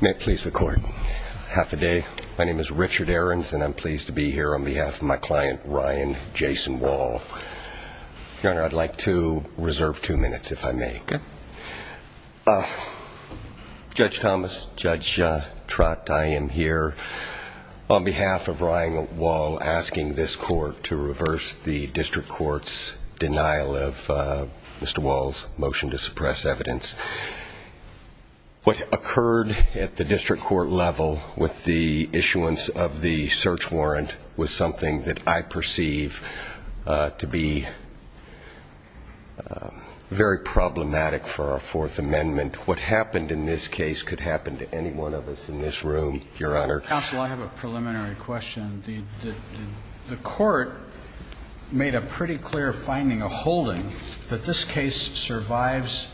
May it please the court. Half a day. My name is Richard Aarons and I'm pleased to be here on behalf of my client, Ryan Jason Wall. Your Honor, I'd like to reserve two minutes if I may. Judge Thomas, Judge Trott, I am here on behalf of Ryan Wall asking this court to reverse the district court's denial of Mr. Wall's motion to suppress evidence. What occurred at the district court level with the issuance of the search warrant was something that I think is problematic for our Fourth Amendment. What happened in this case could happen to any one of us in this room, Your Honor. Counsel, I have a preliminary question. The court made a pretty clear finding, a holding, that this case survives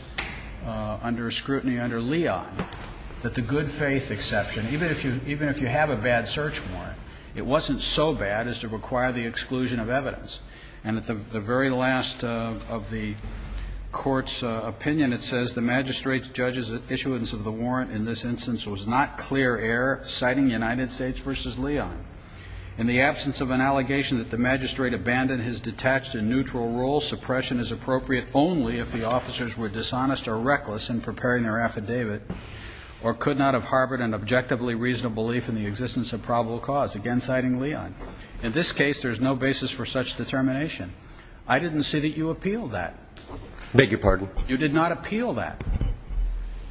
under scrutiny under Leon, that the good faith exception, even if you have a bad search warrant, it wasn't so bad as to require the exclusion of evidence. And at the very last of the court's, the district court's opinion, it says the magistrate's judge's issuance of the warrant in this instance was not clear error, citing United States v. Leon. In the absence of an allegation that the magistrate abandoned his detached and neutral role, suppression is appropriate only if the officers were dishonest or reckless in preparing their affidavit or could not have harbored an objectively reasonable belief in the existence of probable cause, again citing Leon. In this case, there is no basis for such determination. I didn't see that you appealed that. I beg your pardon? You did not appeal that.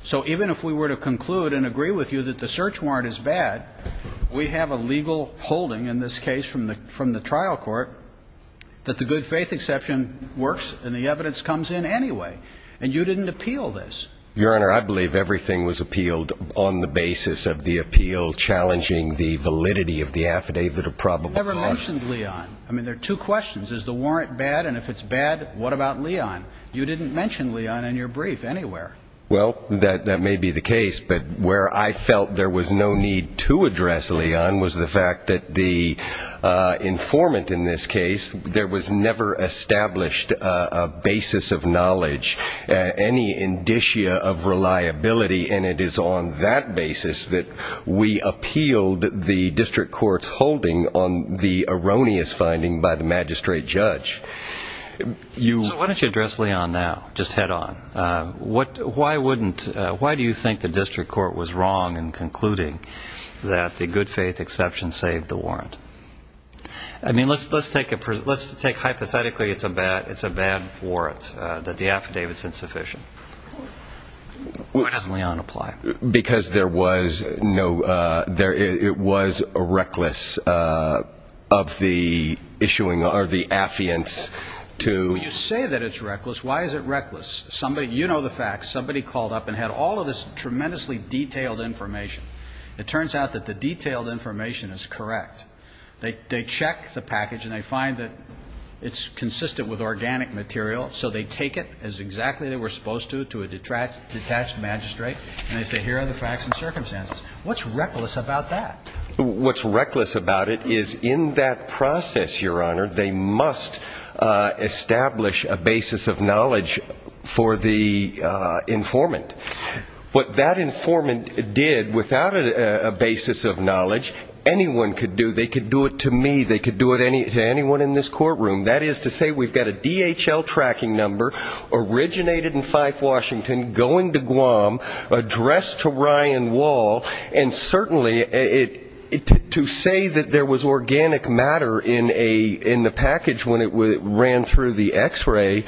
So even if we were to conclude and agree with you that the search warrant is bad, we have a legal holding in this case from the trial court that the good faith exception works and the evidence comes in anyway. And you didn't appeal this. Your Honor, I believe everything was appealed on the basis of the appeal challenging the validity of the affidavit of probable cause. You never mentioned Leon. I mean, there are two questions. Is the warrant bad? And if it's bad, what about Leon? You didn't mention Leon in your brief anywhere. Well, that may be the case. But where I felt there was no need to address Leon was the fact that the informant in this case, there was never established a basis of knowledge, any indicia of reliability. And it is on that basis that we appealed the district court's and the erroneous finding by the magistrate judge. So why don't you address Leon now, just head on? Why do you think the district court was wrong in concluding that the good faith exception saved the warrant? I mean, let's take hypothetically it's a bad warrant, that the affidavit's insufficient. Why doesn't Leon apply? Because there was no, it was reckless of the issuing, or the affiance to You say that it's reckless. Why is it reckless? You know the facts. Somebody called up and had all of this tremendously detailed information. It turns out that the detailed information is correct. They check the package and they find that it's consistent with organic material. So they take it as exactly they were supposed to, to a detached magistrate, and they say here are the facts and circumstances. What's reckless about that? What's reckless about it is in that process, your honor, they must establish a basis of knowledge for the informant. What that informant did without a basis of knowledge, anyone could do, they could do it to me, they could do it to anyone in this courtroom. That is to say, we've got a DHL tracking number, originated in Fife, Washington, going to Guam, addressed to Ryan Wall, and certainly, to say that there was organic matter in a, in the package when it ran through the x-ray,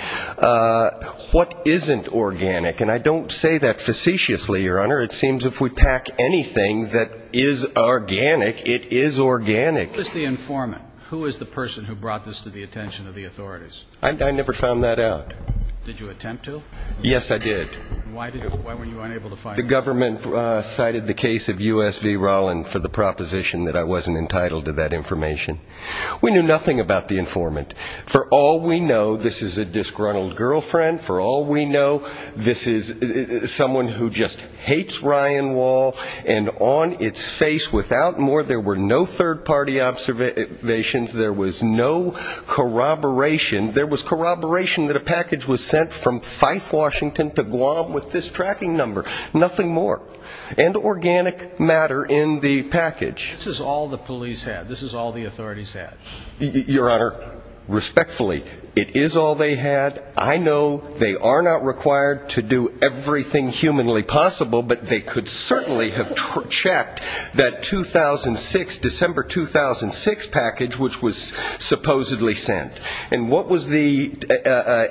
what isn't organic? And I don't say that facetiously, your honor. It seems if we pack anything that is organic, it is organic. Who is the informant? Who is the person who brought this to the attention of the authorities? I never found that out. Did you attempt to? Yes, I did. Why were you unable to find out? The government cited the case of U.S. V. Rollin for the proposition that I wasn't entitled to that information. We knew nothing about the informant. For all we know, this is a disgruntled girlfriend. For all we know, this is someone who just hates Ryan Wall, and on the observations, there was no corroboration. There was corroboration that a package was sent from Fife, Washington, to Guam with this tracking number. Nothing more. And organic matter in the package. This is all the police had. This is all the authorities had. Your honor, respectfully, it is all they had. I know they are not required to do everything humanly possible, but they could certainly have checked that 2006, December 2006 package which was supposedly sent. And what was the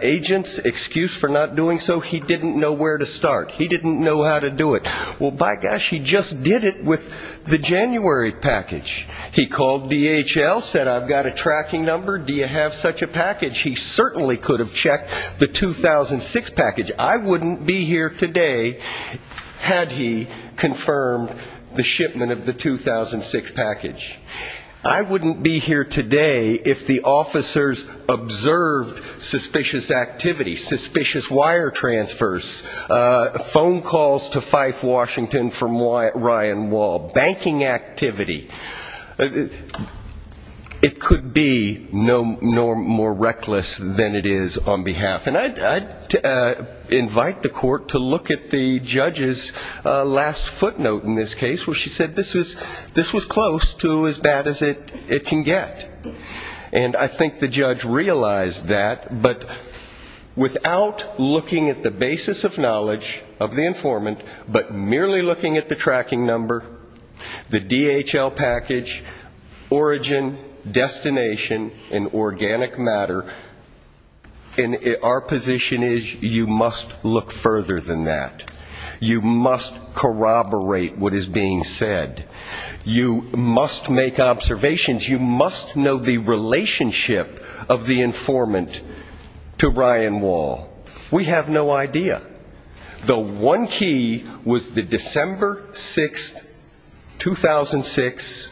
agent's excuse for not doing so? He didn't know where to start. He didn't know how to do it. Well, by gosh, he just did it with the January package. He called DHL, said, I've got a tracking number. Do you have such a package? He certainly could have checked the 2006 package. I wouldn't be here today had he confirmed the shipment of the 2006 package. I wouldn't be here today if the officers observed suspicious activity, suspicious wire transfers, phone calls to Fife, Washington from Ryan Wall, banking activity. It could be no more. More reckless than it is on behalf. And I invite the court to look at the judge's last footnote in this case where she said this was close to as bad as it can get. And I think the judge realized that. But without looking at the basis of knowledge of the informant, but merely looking at the tracking number, the DHL package, origin, destination, and the matter, our position is you must look further than that. You must corroborate what is being said. You must make observations. You must know the relationship of the informant to Ryan Wall. We have no idea. The one key was the December 6, 2006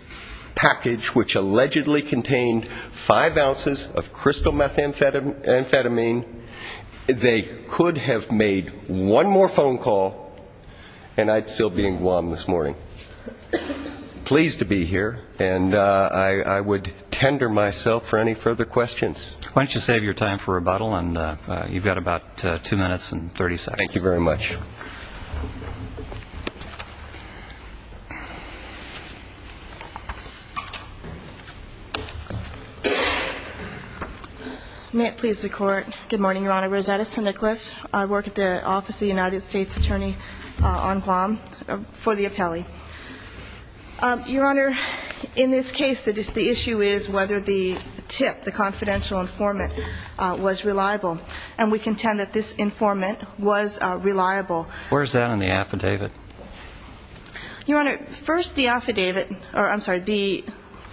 package which allegedly contained five ounces of crystal methamphetamine. They could have made one more phone call and I'd still be in Guam this morning. Pleased to be here. And I would tender myself for any further questions. Why don't you save your time for rebuttal. And you've got about two minutes and 30 seconds. Thank you very much. May it please the court. Good morning, Your Honor. Rosetta St. Nicholas. I work at the Office of the United States Attorney on Guam for the appellee. Your Honor, in this case the issue is whether the tip, the confidential informant, was reliable. And we contend that this informant was reliable. Where is that in the affidavit? Your Honor, first the affidavit, or I'm sorry, the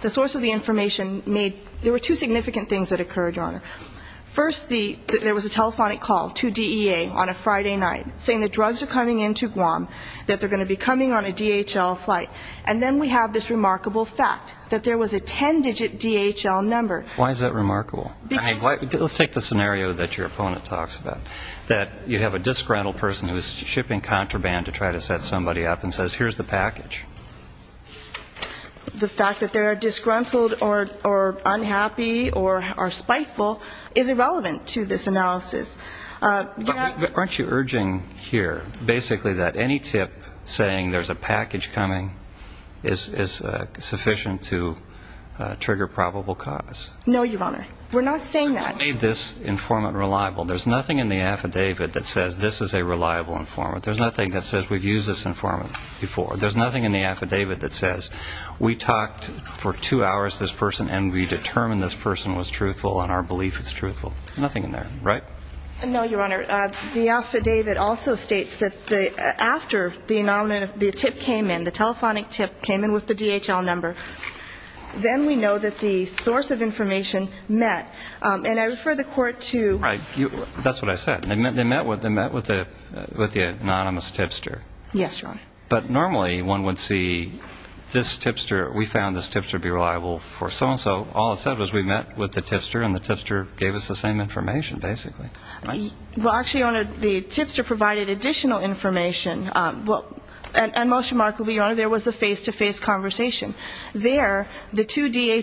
source of the information made, there were two significant things that occurred, Your Honor. First the, there was a telephonic call to DEA on a Friday night saying the drugs are coming into Guam, that they're going to be coming on a DHL flight. And then we have this remarkable fact that there was a ten digit DHL number. Why is that remarkable? Because Let's take the scenario that your opponent talks about. That you have a disgruntled person who is shipping contraband to try to set somebody up and says, here's the package. The fact that they're disgruntled or unhappy or spiteful is irrelevant to this analysis. You're not Aren't you urging here basically that any tip saying there's a package coming is sufficient to trigger probable cause? No, Your Honor. We're not saying that. What made this informant reliable? There's nothing in the affidavit that says this is a reliable informant. There's nothing that says we've used this informant before. There's nothing in the affidavit that says we talked for two hours to this person and we determined this person was truthful and our belief is truthful. Nothing in there, right? No, Your Honor. The affidavit also states that after the tip came in, the telephonic tip came in with the DHL number. Then we know that the source of information met. And I refer the court to Right. That's what I said. They met with the anonymous tipster. Yes, Your Honor. But normally one would see this tipster. We found this tipster to be reliable for so-and-so. All it said was we met with the tipster and the tipster gave us the same information, basically. Well, actually, Your Honor, the tipster provided additional information. And most remarkably, Your Honor, there was a face-to-face conversation. There, the two DEA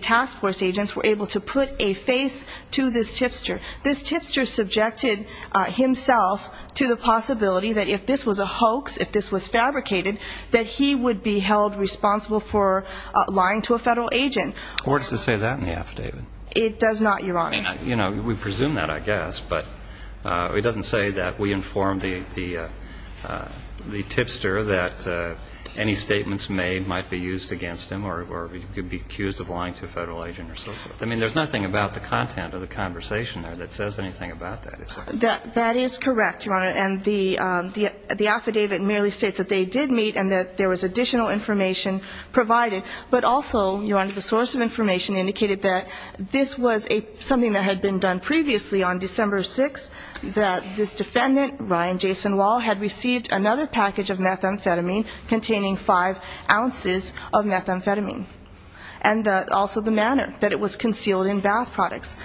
task force agents were able to put a face to this tipster. This tipster subjected himself to the possibility that if this was a hoax, if this was fabricated, that he would be held responsible for lying to a federal agent. The court doesn't say that in the affidavit. It does not, Your Honor. I mean, you know, we presume that, I guess. But it doesn't say that we informed the tipster that any statements made might be used against him or he could be accused of lying to a federal agent or so forth. I mean, there's nothing about the content of the conversation there that says anything about that. That is correct, Your Honor. And the affidavit merely states that they did meet and that there was additional information provided. But also, Your Honor, the source of information indicated that this was something that had been done previously on December 6th, that this defendant, Ryan Jason Wall, had received another package of methamphetamine containing five ounces of methamphetamine. And also the manner that it was concealed in bath products.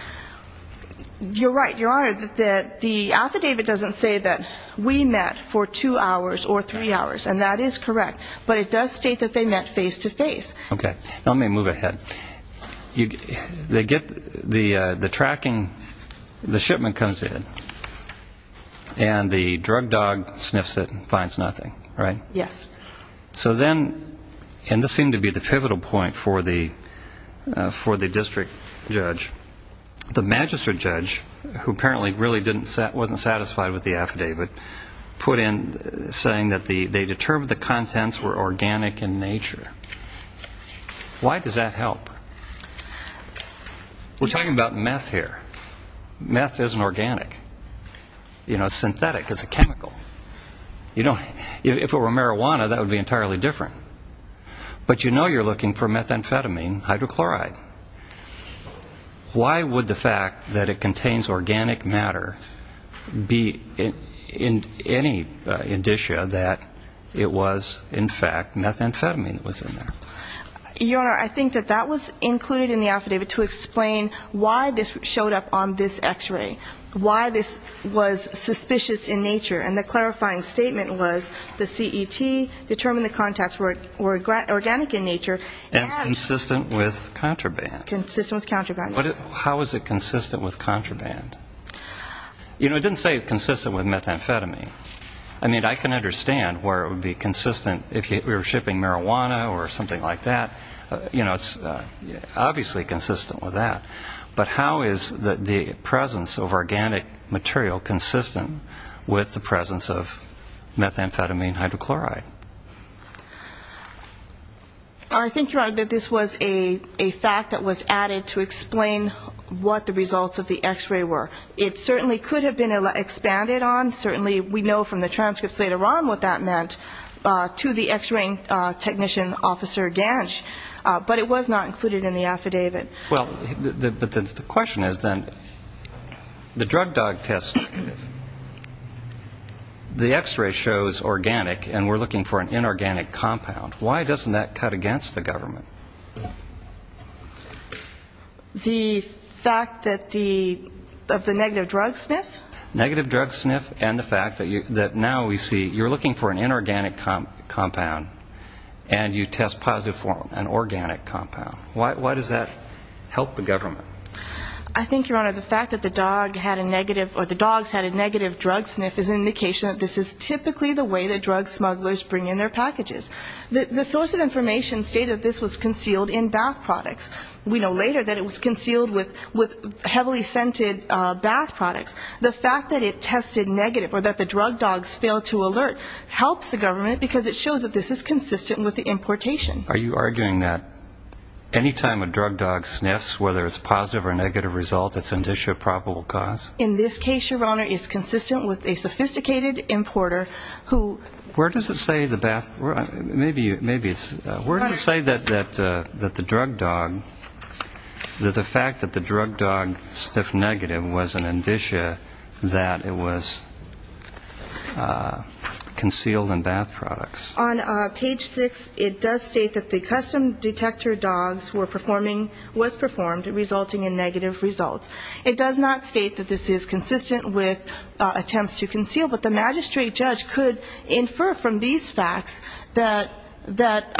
You're right, Your Honor, that the affidavit doesn't say that we met for two hours or three hours. And that is Okay. Now let me move ahead. They get the tracking, the shipment comes in, and the drug dog sniffs it and finds nothing, right? Yes. So then, and this seemed to be the pivotal point for the district judge, the magistrate judge, who apparently really wasn't satisfied with the affidavit, put in saying that they determined the contents were organic and natural. Why does that help? We're talking about meth here. Meth isn't organic. You know, synthetic is a chemical. You know, if it were marijuana, that would be entirely different. But you know you're looking for methamphetamine, hydrochloride. Why would the fact that it contains organic matter be in any indicia that it was, in fact, methamphetamine that was in there? Your Honor, I think that that was included in the affidavit to explain why this showed up on this x-ray. Why this was suspicious in nature. And the clarifying statement was the CET determined the contents were organic in nature and Consistent with contraband. Consistent with contraband. How is it consistent with contraband? You know, it didn't say consistent with methamphetamine. I mean, I can understand where it would be consistent if we were shipping marijuana or something like that. You know, it's obviously consistent with that. But how is the presence of organic material consistent with the presence of methamphetamine, hydrochloride? I think, Your Honor, that this was a fact that was added to explain what the results of the x-ray were. It certainly could have been expanded on. Certainly we know from the transcripts later on what that meant to the x-raying technician officer Gansh. But it was not included in the affidavit. Well, but the question is then, the drug dog test, the x-ray shows organic and we're looking for an inorganic compound. Why doesn't that cut against the government? The fact that the, of the negative drug sniff? Negative drug sniff and the fact that now we see you're looking for an inorganic compound and you test positive for an organic compound. Why does that help the government? I think, Your Honor, the fact that the dog had a negative or the dogs had a negative drug sniff is an indication that this is typically the way that drug smugglers bring in their packages. The source of information stated this was concealed in bath products. We know later that it was concealed with heavily scented bath products. The fact that it tested negative or that the drug dogs failed to alert helps the government because it shows that this is consistent with the importation. Are you arguing that any time a drug dog sniffs, whether it's positive or negative result, it's an issue of probable cause? In this case, Your Honor, it's consistent with a sophisticated importer who Where does it say the bath, where, maybe it's, where does it say that the drug dog, that the fact that the drug dog sniffed negative was an indicia that it was concealed in bath products? On page six it does state that the custom detector dogs were performing, was performed, resulting in negative results. It does not state that the evidence is consistent with attempts to conceal, but the magistrate judge could infer from these facts that, that,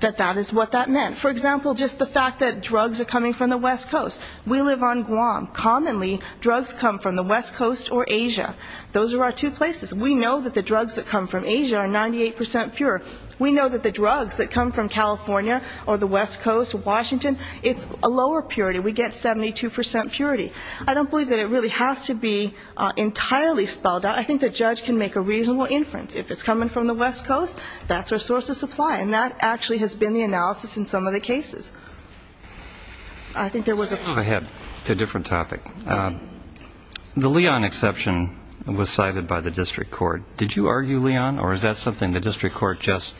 that that is what that meant. For example, just the fact that drugs are coming from the west coast. We live on Guam. Commonly drugs come from the west coast or Asia. Those are our two places. We know that the drugs that come from Asia are 98% pure. We know that the drugs that come from California or the west coast, Washington, it's a lower purity. We get 72% purity. I don't believe that it really has to be entirely spelled out. I think the judge can make a reasonable inference. If it's coming from the west coast, that's our source of supply, and that actually has been the analysis in some of the cases. I think there was a point. I have a different topic. The Leon exception was cited by the district court. Did you argue Leon, or is that something the district court just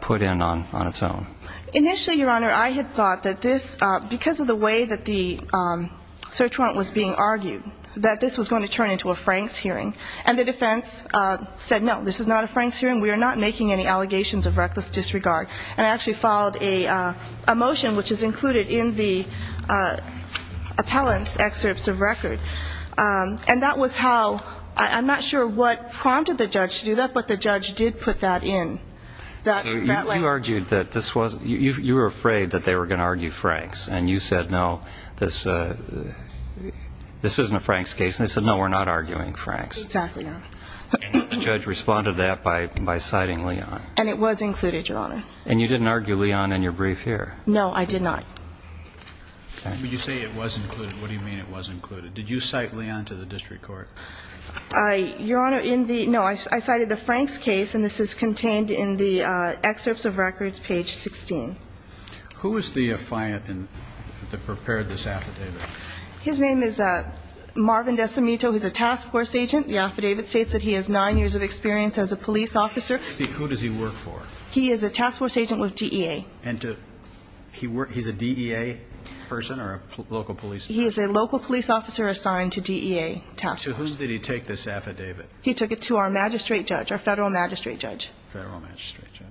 put in on, on its own? Initially, Your Honor, I had thought that this, because of the way that the search warrant was being argued, that this was going to turn into a Franks hearing. And the defense said, no, this is not a Franks hearing. We are not making any allegations of reckless disregard. And I actually filed a motion which is included in the appellant's excerpts of record. And that was how, I'm not sure what prompted the judge to do that, but the judge responded to that by citing Leon. And it was included, Your Honor. And you didn't argue Leon in your brief here? No, I did not. When you say it was included, what do you mean it was included? Did you cite Leon to the district court? Your Honor, in the, no, I cited the Franks case, and this is contained in the excerpts of records, page 16. Who is the appellant that prepared this affidavit? His name is Marvin Decimito. He's a task force agent. The affidavit states that he has nine years of experience as a police officer. Who does he work for? He is a task force agent with DEA. And to, he's a DEA person or a local police? He is a local police officer assigned to DEA task force. To who did he take this affidavit? He took it to our magistrate judge, our federal magistrate judge. Federal magistrate judge.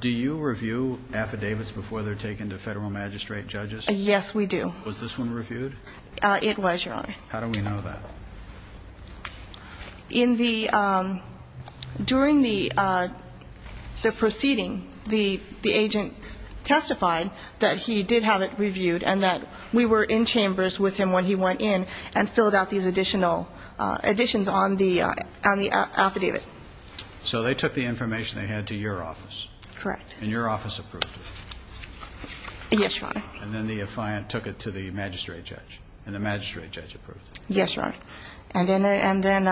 Do you review affidavits before they're taken to federal magistrate judges? Yes, we do. Was this one reviewed? It was, Your Honor. How do we know that? In the, during the proceeding, the agent testified that he did have it reviewed and that we were in chambers with him when he went in and filled out these additional additions on the affidavit. So they took the information they had to your office? Correct. And your office approved it? Yes, Your Honor. And then the defiant took it to the magistrate judge and the magistrate judge approved it? Yes, Your Honor. And then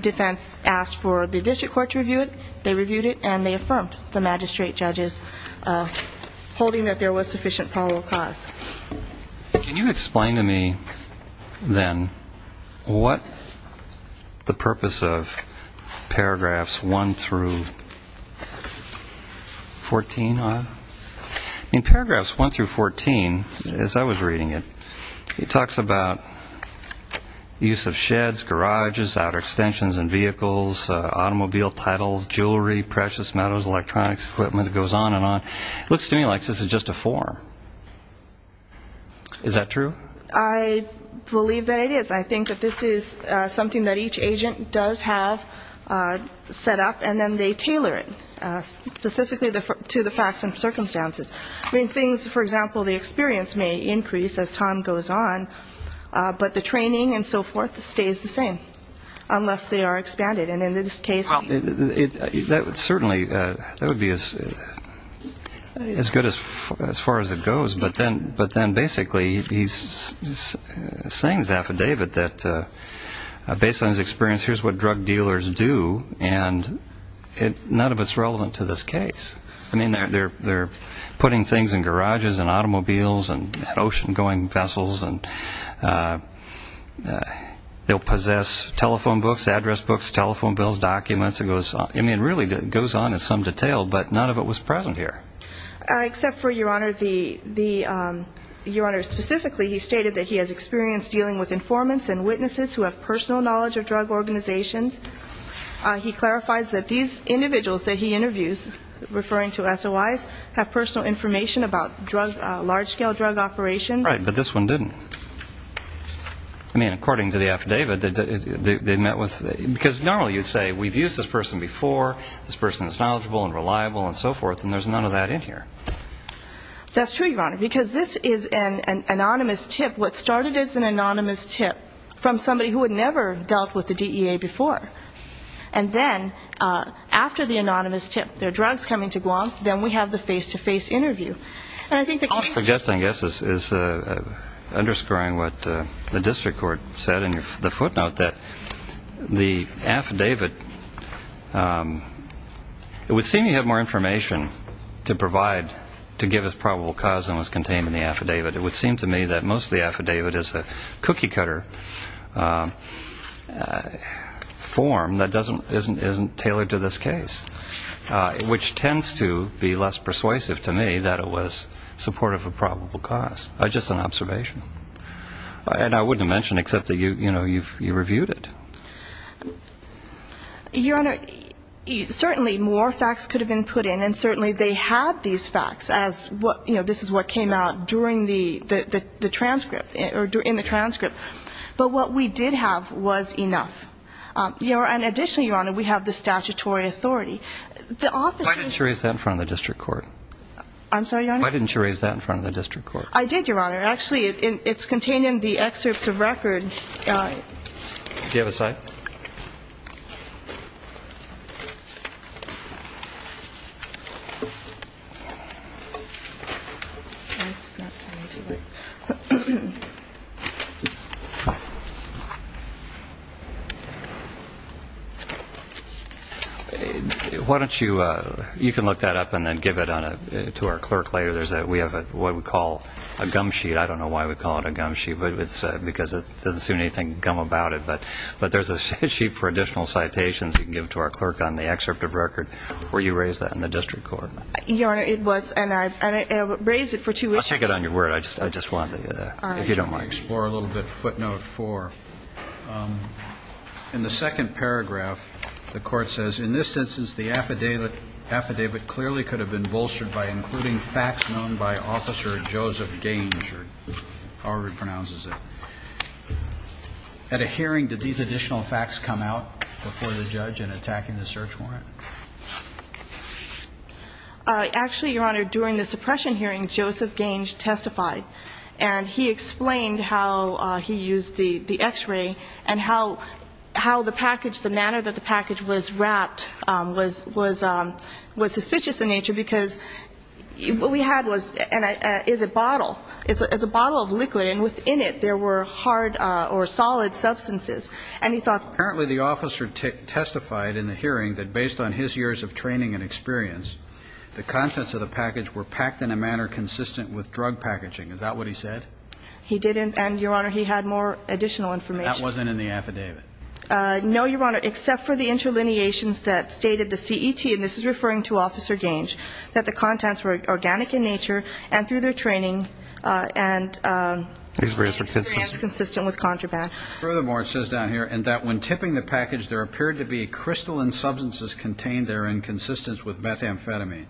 defense asked for the district court to review it. They reviewed it and they affirmed the magistrate judge's holding that there was sufficient probable cause. Can you explain to me, then, what the purpose of paragraphs 1 through 14 are? In paragraphs 1 through 14, as I was reading it, it talks about use of sheds, garages, outer extensions and vehicles, automobile titles, jewelry, precious metals, electronics, equipment, it goes on and on. It looks to me like this is just a form. Is that true? I believe that it is. I think that this is something that each agent does have set up and then they tailor it, specifically to the facts and circumstances. I mean, things, for example, the experience may increase as time goes on, but the training and so forth stays the same, unless they are expanded. Well, certainly that would be as good as far as it goes, but then basically he's saying his affidavit that, based on his experience, here's what drug dealers do, and none of it's relevant to this case. I mean, they're putting things in garages and automobiles and ocean-going vessels and they'll possess telephone books, address books, telephone books. I mean, it really goes on in some detail, but none of it was present here. Except for, Your Honor, specifically he stated that he has experience dealing with informants and witnesses who have personal knowledge of drug organizations. He clarifies that these individuals that he interviews, referring to SOIs, have personal information about large-scale drug operations. Right, but this one didn't. I mean, according to the affidavit, they met with, because normally you'd say we've used this person before, this person is knowledgeable and reliable and so forth, and there's none of that in here. That's true, Your Honor, because this is an anonymous tip. What started as an anonymous tip from somebody who had never dealt with the DEA before, and then after the anonymous tip, there are drugs coming to Guam, then we have the face-to-face interview. All I'm suggesting, I guess, is underscoring what the district court said in the footnote, that the affidavit, it would seem you have more information to provide, to give as probable cause than was contained in the affidavit. It would seem to me that most of the affidavit is a cookie-cutter form that isn't tailored to this case, which tends to be less persuasive to me that it would be. But it was supportive of probable cause, just an observation. And I wouldn't have mentioned it, except that you reviewed it. Your Honor, certainly more facts could have been put in, and certainly they had these facts, as this is what came out during the transcript, or in the transcript. But what we did have was enough. And additionally, Your Honor, we have the statutory authority. Why didn't you raise that in front of the district court? I did, Your Honor. Actually, it's contained in the excerpts of record. Why don't you, you can look that up and then give it to our clerk later. We have what we call a gum sheet. I don't know why we call it a gum sheet, because it doesn't seem anything gum about it. But there's a sheet for additional citations you can give to our clerk on the excerpt of record, where you raised that in the district court. Your Honor, it was, and I raised it for two issues. I take it on your word. I just wanted to get that, if you don't mind. All right. Let me explore a little bit footnote four. In the second paragraph, the Court says, and he explained how he used the X-ray and how the package, the manner that the package was wrapped was suspicious in nature, because what we had was, is a bottle. It's a bottle of liquid, and within it there were hard or solid substances. And he thought, apparently the officer testified in the hearing that based on his years of training and experience, the contents of the package were packed in a manner consistent with drug packaging. Is that what he said? He didn't, and, Your Honor, he had more additional information. That wasn't in the affidavit. No, Your Honor, except for the interlineations that stated the CET, and this is referring to Officer Gange, that the contents were organic in nature and through their training and experience consistent with contraband. Furthermore, it says down here, and that when tipping the package, there appeared to be crystalline substances contained there in consistence with methamphetamine.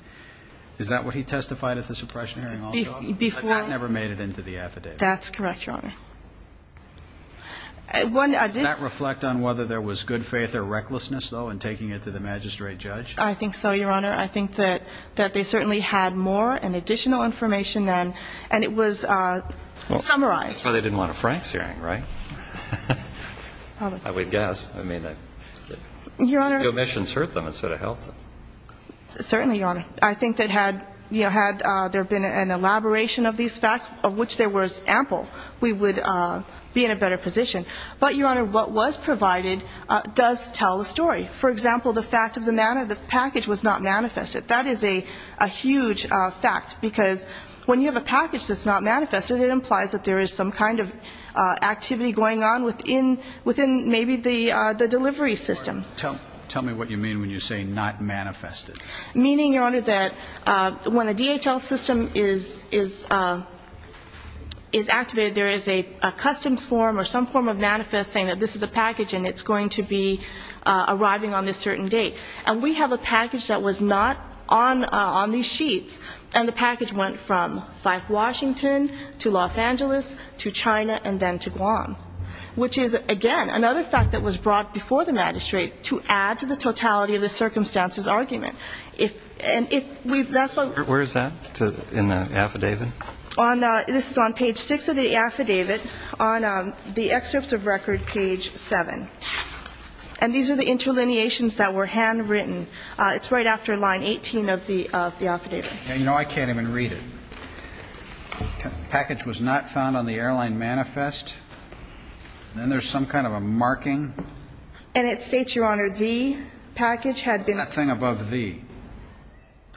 Is that what he testified at the suppression hearing? That never made it into the affidavit. That's correct, Your Honor. Did that reflect on whether there was good faith or recklessness, though, in taking it to the magistrate judge? I think so, Your Honor. I think that they certainly had more and additional information, and it was summarized. That's why they didn't want a Franks hearing, right? I would guess. I mean, the omissions hurt them instead of helped them. Certainly, Your Honor. I think that had there been an elaboration of these facts, of which there was ample, we would be in a better position. But, Your Honor, what was provided does tell a story. For example, the fact of the package was not manifested. That is a huge fact, because when you have a package that's not manifested, it implies that there is some kind of activity going on within maybe the delivery system. Tell me what you mean when you say not manifested. Meaning, Your Honor, that when the DHL system is activated, there is a customs form or some form of manifest saying that this is a package and it's going to be arriving on this certain date. And we have a package that was not on these sheets, and the package went from Fife, Washington to Los Angeles to China and then to Guam, which is, again, another fact that was brought before the magistrate to add to the totality of the circumstances argument. And if that's what we're going to do. Where is that in the affidavit? This is on page 6 of the affidavit, on the excerpts of record, page 7. And these are the interlineations that were handwritten. It's right after line 18 of the affidavit. You know, I can't even read it. Package was not found on the airline manifest. Then there's some kind of a marking. And it states, Your Honor, the package had been. Nothing above the.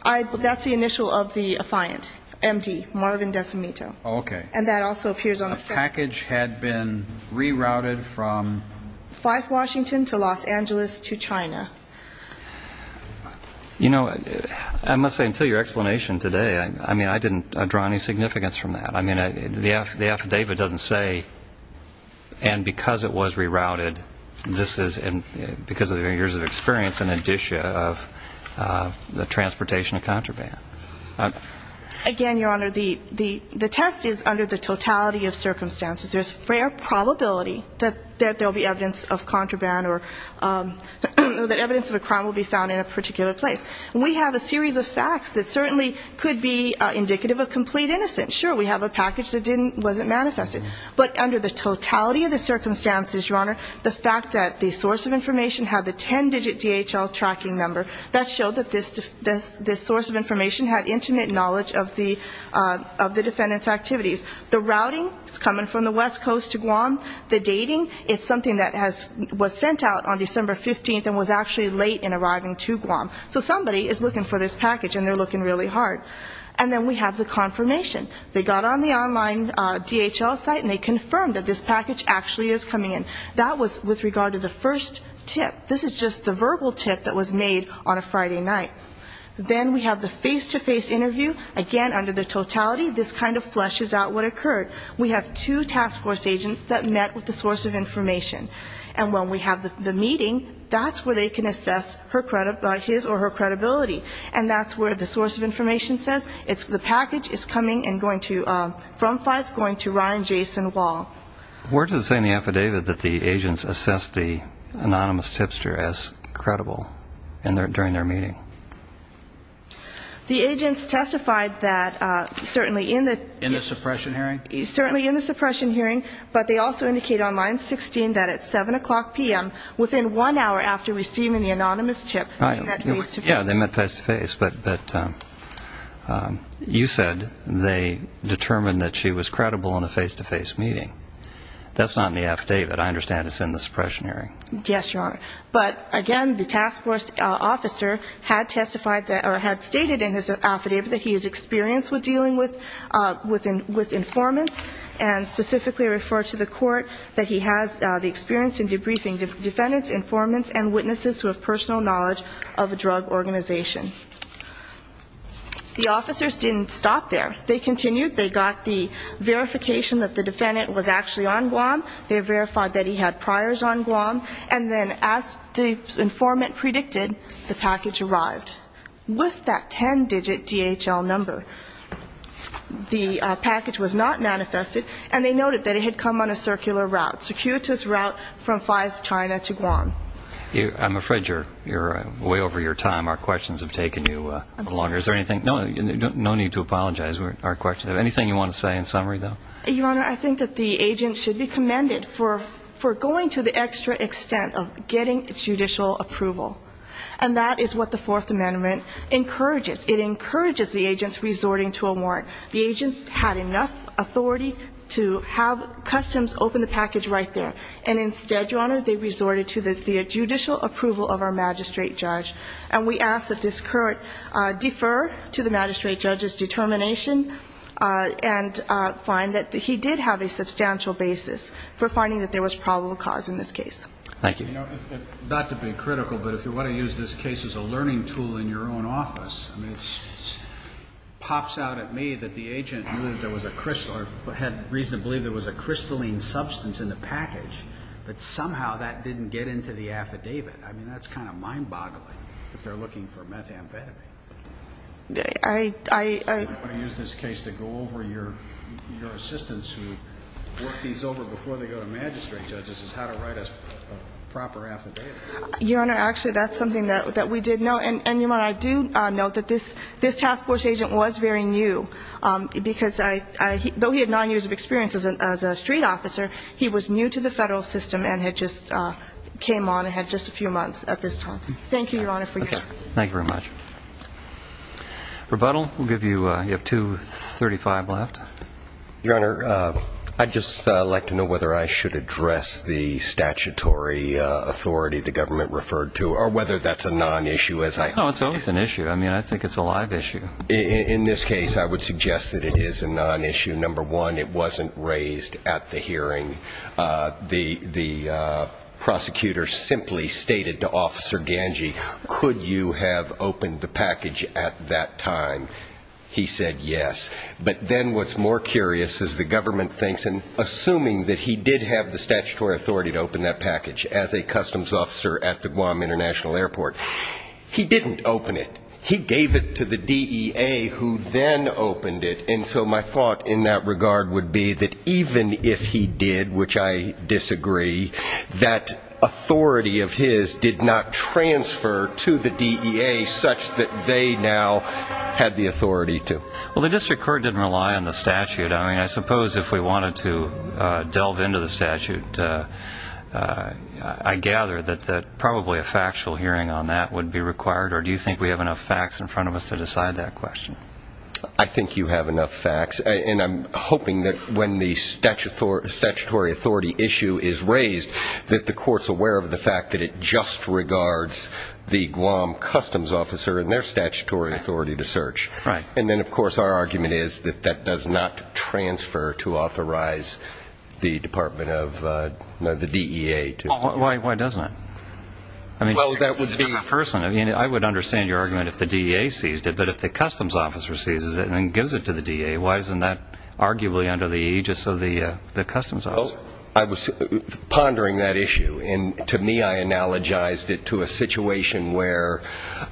That's the initial of the affiant, M.D., Marvin Decimito. Okay. And that also appears on the package had been rerouted from Fife, Washington to Los Angeles to China. You know, I must say until your explanation today, I mean, I didn't draw any significance from that. I mean, the affidavit doesn't say and because it was rerouted, this is because of years of experience in addition of the transportation of contraband. Again, Your Honor, the test is under the totality of circumstances. There's fair probability that there will be evidence of contraband or that evidence of a crime will be found in a particular place. We have a series of facts that certainly could be indicative of complete innocence. Sure, we have a package that wasn't manifested. But under the totality of the circumstances, Your Honor, the fact that the source of information had the 10-digit DHL tracking number, that showed that this source of information had intimate knowledge of the defendant's activities. The routing is coming from the West Coast to Guam. The dating is something that was sent out on December 15th and was actually late in arriving to Guam. So somebody is looking for this package and they're looking really hard. And then we have the confirmation. They got on the online DHL site and they confirmed that this package actually is coming in. That was with regard to the first tip. This is just the verbal tip that was made on a Friday night. Then we have the face-to-face interview. Again, under the totality, this kind of fleshes out what occurred. We have two task force agents that met with the source of information. And when we have the meeting, that's where they can assess his or her credibility. And that's where the source of information says the package is coming from Fife going to Ryan Jason Wall. Where does it say in the affidavit that the agents assessed the anonymous tipster as credible during their meeting? The agents testified that certainly in the suppression hearing, but they also indicated on line 16 that at 7 o'clock p.m. within one hour after receiving the anonymous tip they met face-to-face. Yeah, they met face-to-face, but you said they determined that she was credible in a face-to-face meeting. That's not in the affidavit. I understand it's in the suppression hearing. Yes, Your Honor. But again, the task force officer had testified or had stated in his affidavit that he is experienced with dealing with informants and specifically referred to the court that he has the experience in debriefing defendants, informants, and witnesses who have personal knowledge of a drug organization. The officers didn't stop there. They continued. They got the verification that the defendant was actually on Guam. They verified that he had priors on Guam. And then as the informant predicted, the package arrived with that ten-digit DHL number. The package was not manifested, and they noted that it had come on a circular route, circuitous route from 5 China to Guam. I'm afraid you're way over your time. Our questions have taken you longer. No need to apologize. Anything you want to say in summary, though? Your Honor, I think that the agent should be commended for going to the extra extent of getting judicial approval. And that is what the Fourth Amendment encourages. It encourages the agents resorting to a warrant. The agents had enough authority to have customs open the package right there. And instead, Your Honor, they resorted to the judicial approval of our magistrate judge. And we ask that this court defer to the magistrate judge's determination and find that he did have a substantial basis for finding that there was probable cause in this case. Thank you. You know, not to be critical, but if you want to use this case as a learning tool in your own office, I mean, it pops out at me that the agent knew that there was a crystal or had reason to believe there was a crystalline substance in the package, but somehow that didn't get into the affidavit. I mean, that's kind of mind boggling if they're looking for methamphetamine. I want to use this case to go over your assistants who work these over before they go to magistrate judges is how to write a proper affidavit. Your Honor, actually, that's something that we did know. And, Your Honor, I do know that this task force agent was very new, because though he had nine years of experience as a street officer, he was new to the federal system and had just came on and had just a few months at this time. Thank you, Your Honor, for your time. Thank you very much. Rebuttal, we'll give you, you have 235 left. Your Honor, I'd just like to know whether I should address the statutory authority the government referred to, or whether that's a nonissue as I. No, it's always an issue. I mean, I think it's a live issue. In this case, I would suggest that it is a nonissue. Number one, it wasn't raised at the hearing. The prosecutor simply stated to Officer Ganji, could you have opened the package at that time? He said yes. But then what's more curious, as the government thinks, and assuming that he did have the statutory authority to open that package as a customs officer at the Guam International Airport, he didn't open it. He gave it to the DEA, who then opened it. And so my thought in that regard would be that even if he did, which I disagree, that authority of his did not transfer to the DEA such that they now had the authority to. Well, the district court didn't rely on the statute. I mean, I suppose if we wanted to delve into the statute, I gather that probably a factual hearing on that would be required, or do you think we have enough facts in front of us to decide that question? I think you have enough facts, and I'm hoping that when the statutory authority issue is raised, that the court's aware of the fact that it just regards the Guam customs officer and their statutory authority to search. And then, of course, our argument is that that does not transfer to authorize the Department of the DEA. Why doesn't it? I mean, I would understand your argument if the DEA seized it, but if the customs officer seizes it and then gives it to the DEA, why isn't that arguably under the aegis of the customs officer? I was pondering that issue, and to me I analogized it to a situation where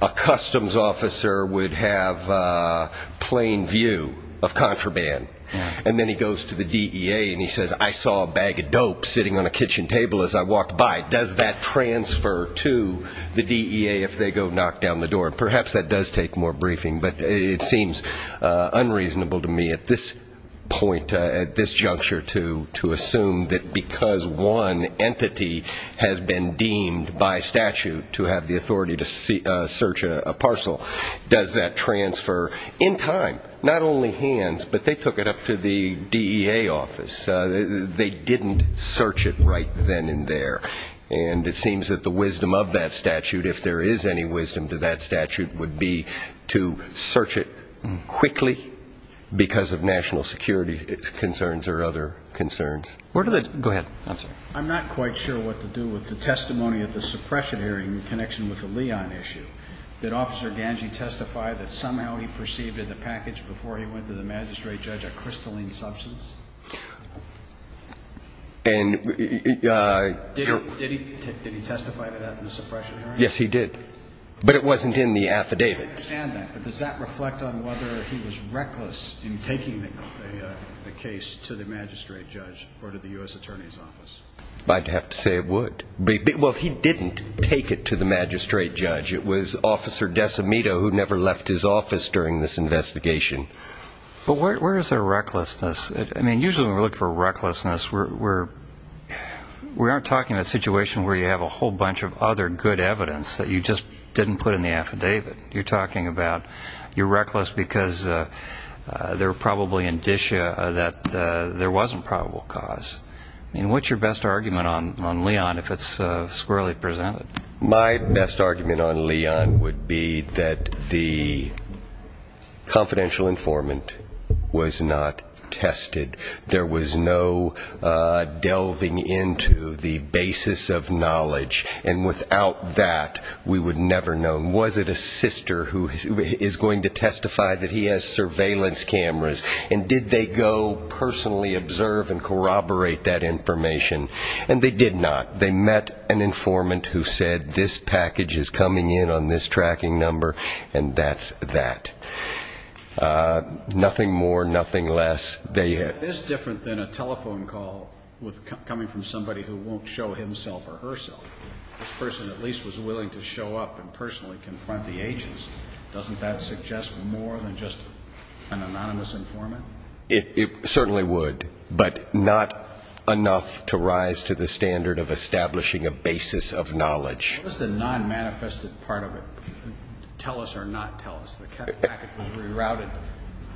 a customs officer would have plain view of contraband, and then he goes to the DEA and he says, I saw a bag of dope sitting on a kitchen table as I walked by. Does that transfer to the DEA if they go knock down the door? And perhaps that does take more briefing, but it seems unreasonable to me at this point, at this juncture, to assume that because one entity has been deemed by statute to have the authority to search a parcel, does that transfer in time? Not only hands, but they took it up to the DEA office. They didn't search it right then and there. And it seems that the wisdom of that statute, if there is any wisdom to that statute, would be to search it quickly because of national security concerns or other concerns. I'm not quite sure what to do with the testimony at the suppression hearing in connection with the Leon issue. Did Officer Ganji testify that somehow he perceived in the package before he went to the magistrate judge a crystalline substance? Did he testify to that in the suppression hearing? Yes, he did, but it wasn't in the affidavit. I understand that, but does that reflect on whether he was reckless in taking the case to the magistrate judge or to the U.S. Attorney's office? I'd have to say it would. Well, he didn't take it to the magistrate judge. It was Officer Decimito who never left his office during this investigation. But where is there recklessness? I mean, usually when we're looking for recklessness, we aren't talking about a situation where you have a whole bunch of other good evidence that you just didn't put in the affidavit. You're talking about you're reckless because there were probably indicia that there wasn't probable cause. I mean, what's your best argument on Leon if it's squarely presented? My best argument on Leon would be that the confidential informant was not tested. There was no delving into the basis of knowledge, and without that we would never know. Was it a sister who is going to testify that he has surveillance cameras, and did they go personally observe and corroborate that information? And they did not. They met an informant who said this package is coming in on this tracking number, and that's that. Nothing more, nothing less. It is different than a telephone call coming from somebody who won't show himself or herself. This person at least was willing to show up and personally confront the agents. Doesn't that suggest more than just an anonymous informant? It certainly would, but not enough to rise to the standard of establishing a basis of knowledge. What is the non-manifested part of it? Tell us or not tell us. The package was rerouted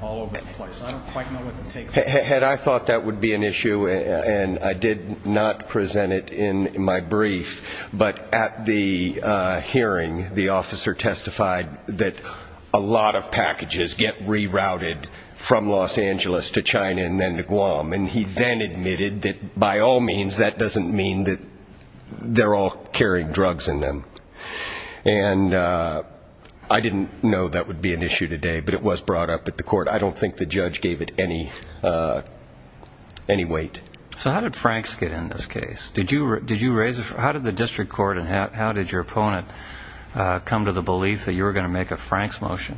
all over the place. I don't quite know what to take from that. I thought that would be an issue, and I did not present it in my brief, but at the hearing the officer testified that a lot of packages get rerouted from Los Angeles to China and then to Guam, and he then admitted that by all means that doesn't mean that they're all carrying drugs in them. And I didn't know that would be an issue today, but it was brought up at the court. I don't think the judge gave it any weight. So how did Franks get in this case? How did the district court and how did your opponent come to the belief that you were going to make a Franks motion?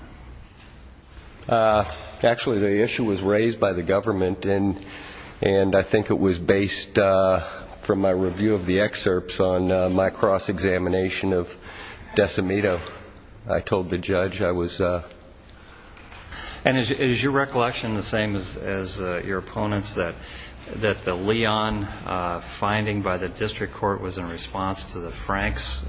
Actually, the issue was raised by the government, and I think it was based from my review of the excerpts on my cross-examination of Decimito. I told the judge I was... And is your recollection the same as your opponent's, that the Leon finding by the district court was in response to the Franks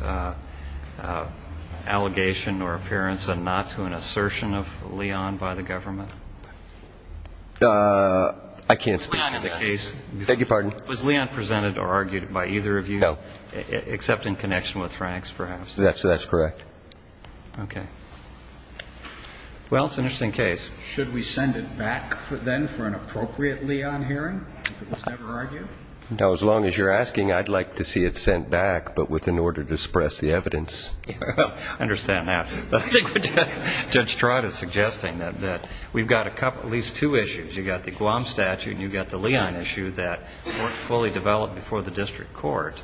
allegation or appearance and not to an assertion of Leon by the government? I can't speak to that. Was Leon presented or argued by either of you? No. Except in connection with Franks, perhaps. That's correct. Okay. Well, it's an interesting case. Should we send it back, then, for an appropriate Leon hearing, if it was never argued? Now, as long as you're asking, I'd like to see it sent back, but with an order to suppress the evidence. I understand that. But I think Judge Trott is suggesting that we've got at least two issues. You've got the Guam statute and you've got the Leon issue that weren't fully developed before the district court,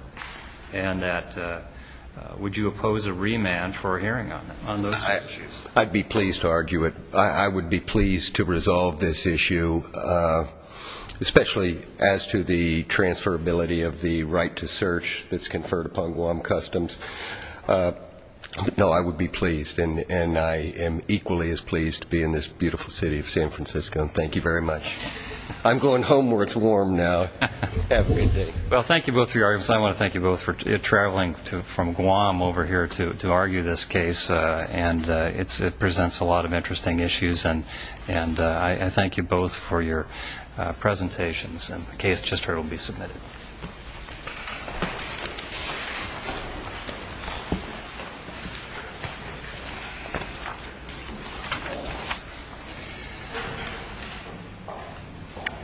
and that would you oppose a remand for a hearing on those statutes? I'd be pleased to argue it. I would be pleased to resolve this issue, especially as to the transferability of the right to search that's conferred upon Guam Customs. No, I would be pleased, and I am equally as pleased to be in this beautiful city of San Francisco, and thank you very much. I'm going home where it's warm now. Well, thank you both for your arguments, and I want to thank you both for traveling from Guam over here to argue this case. And it presents a lot of interesting issues, and I thank you both for your presentations. And the case just heard will be submitted.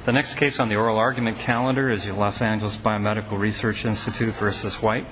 The next case on the oral argument calendar is the Los Angeles Biomedical Research Institute v. White.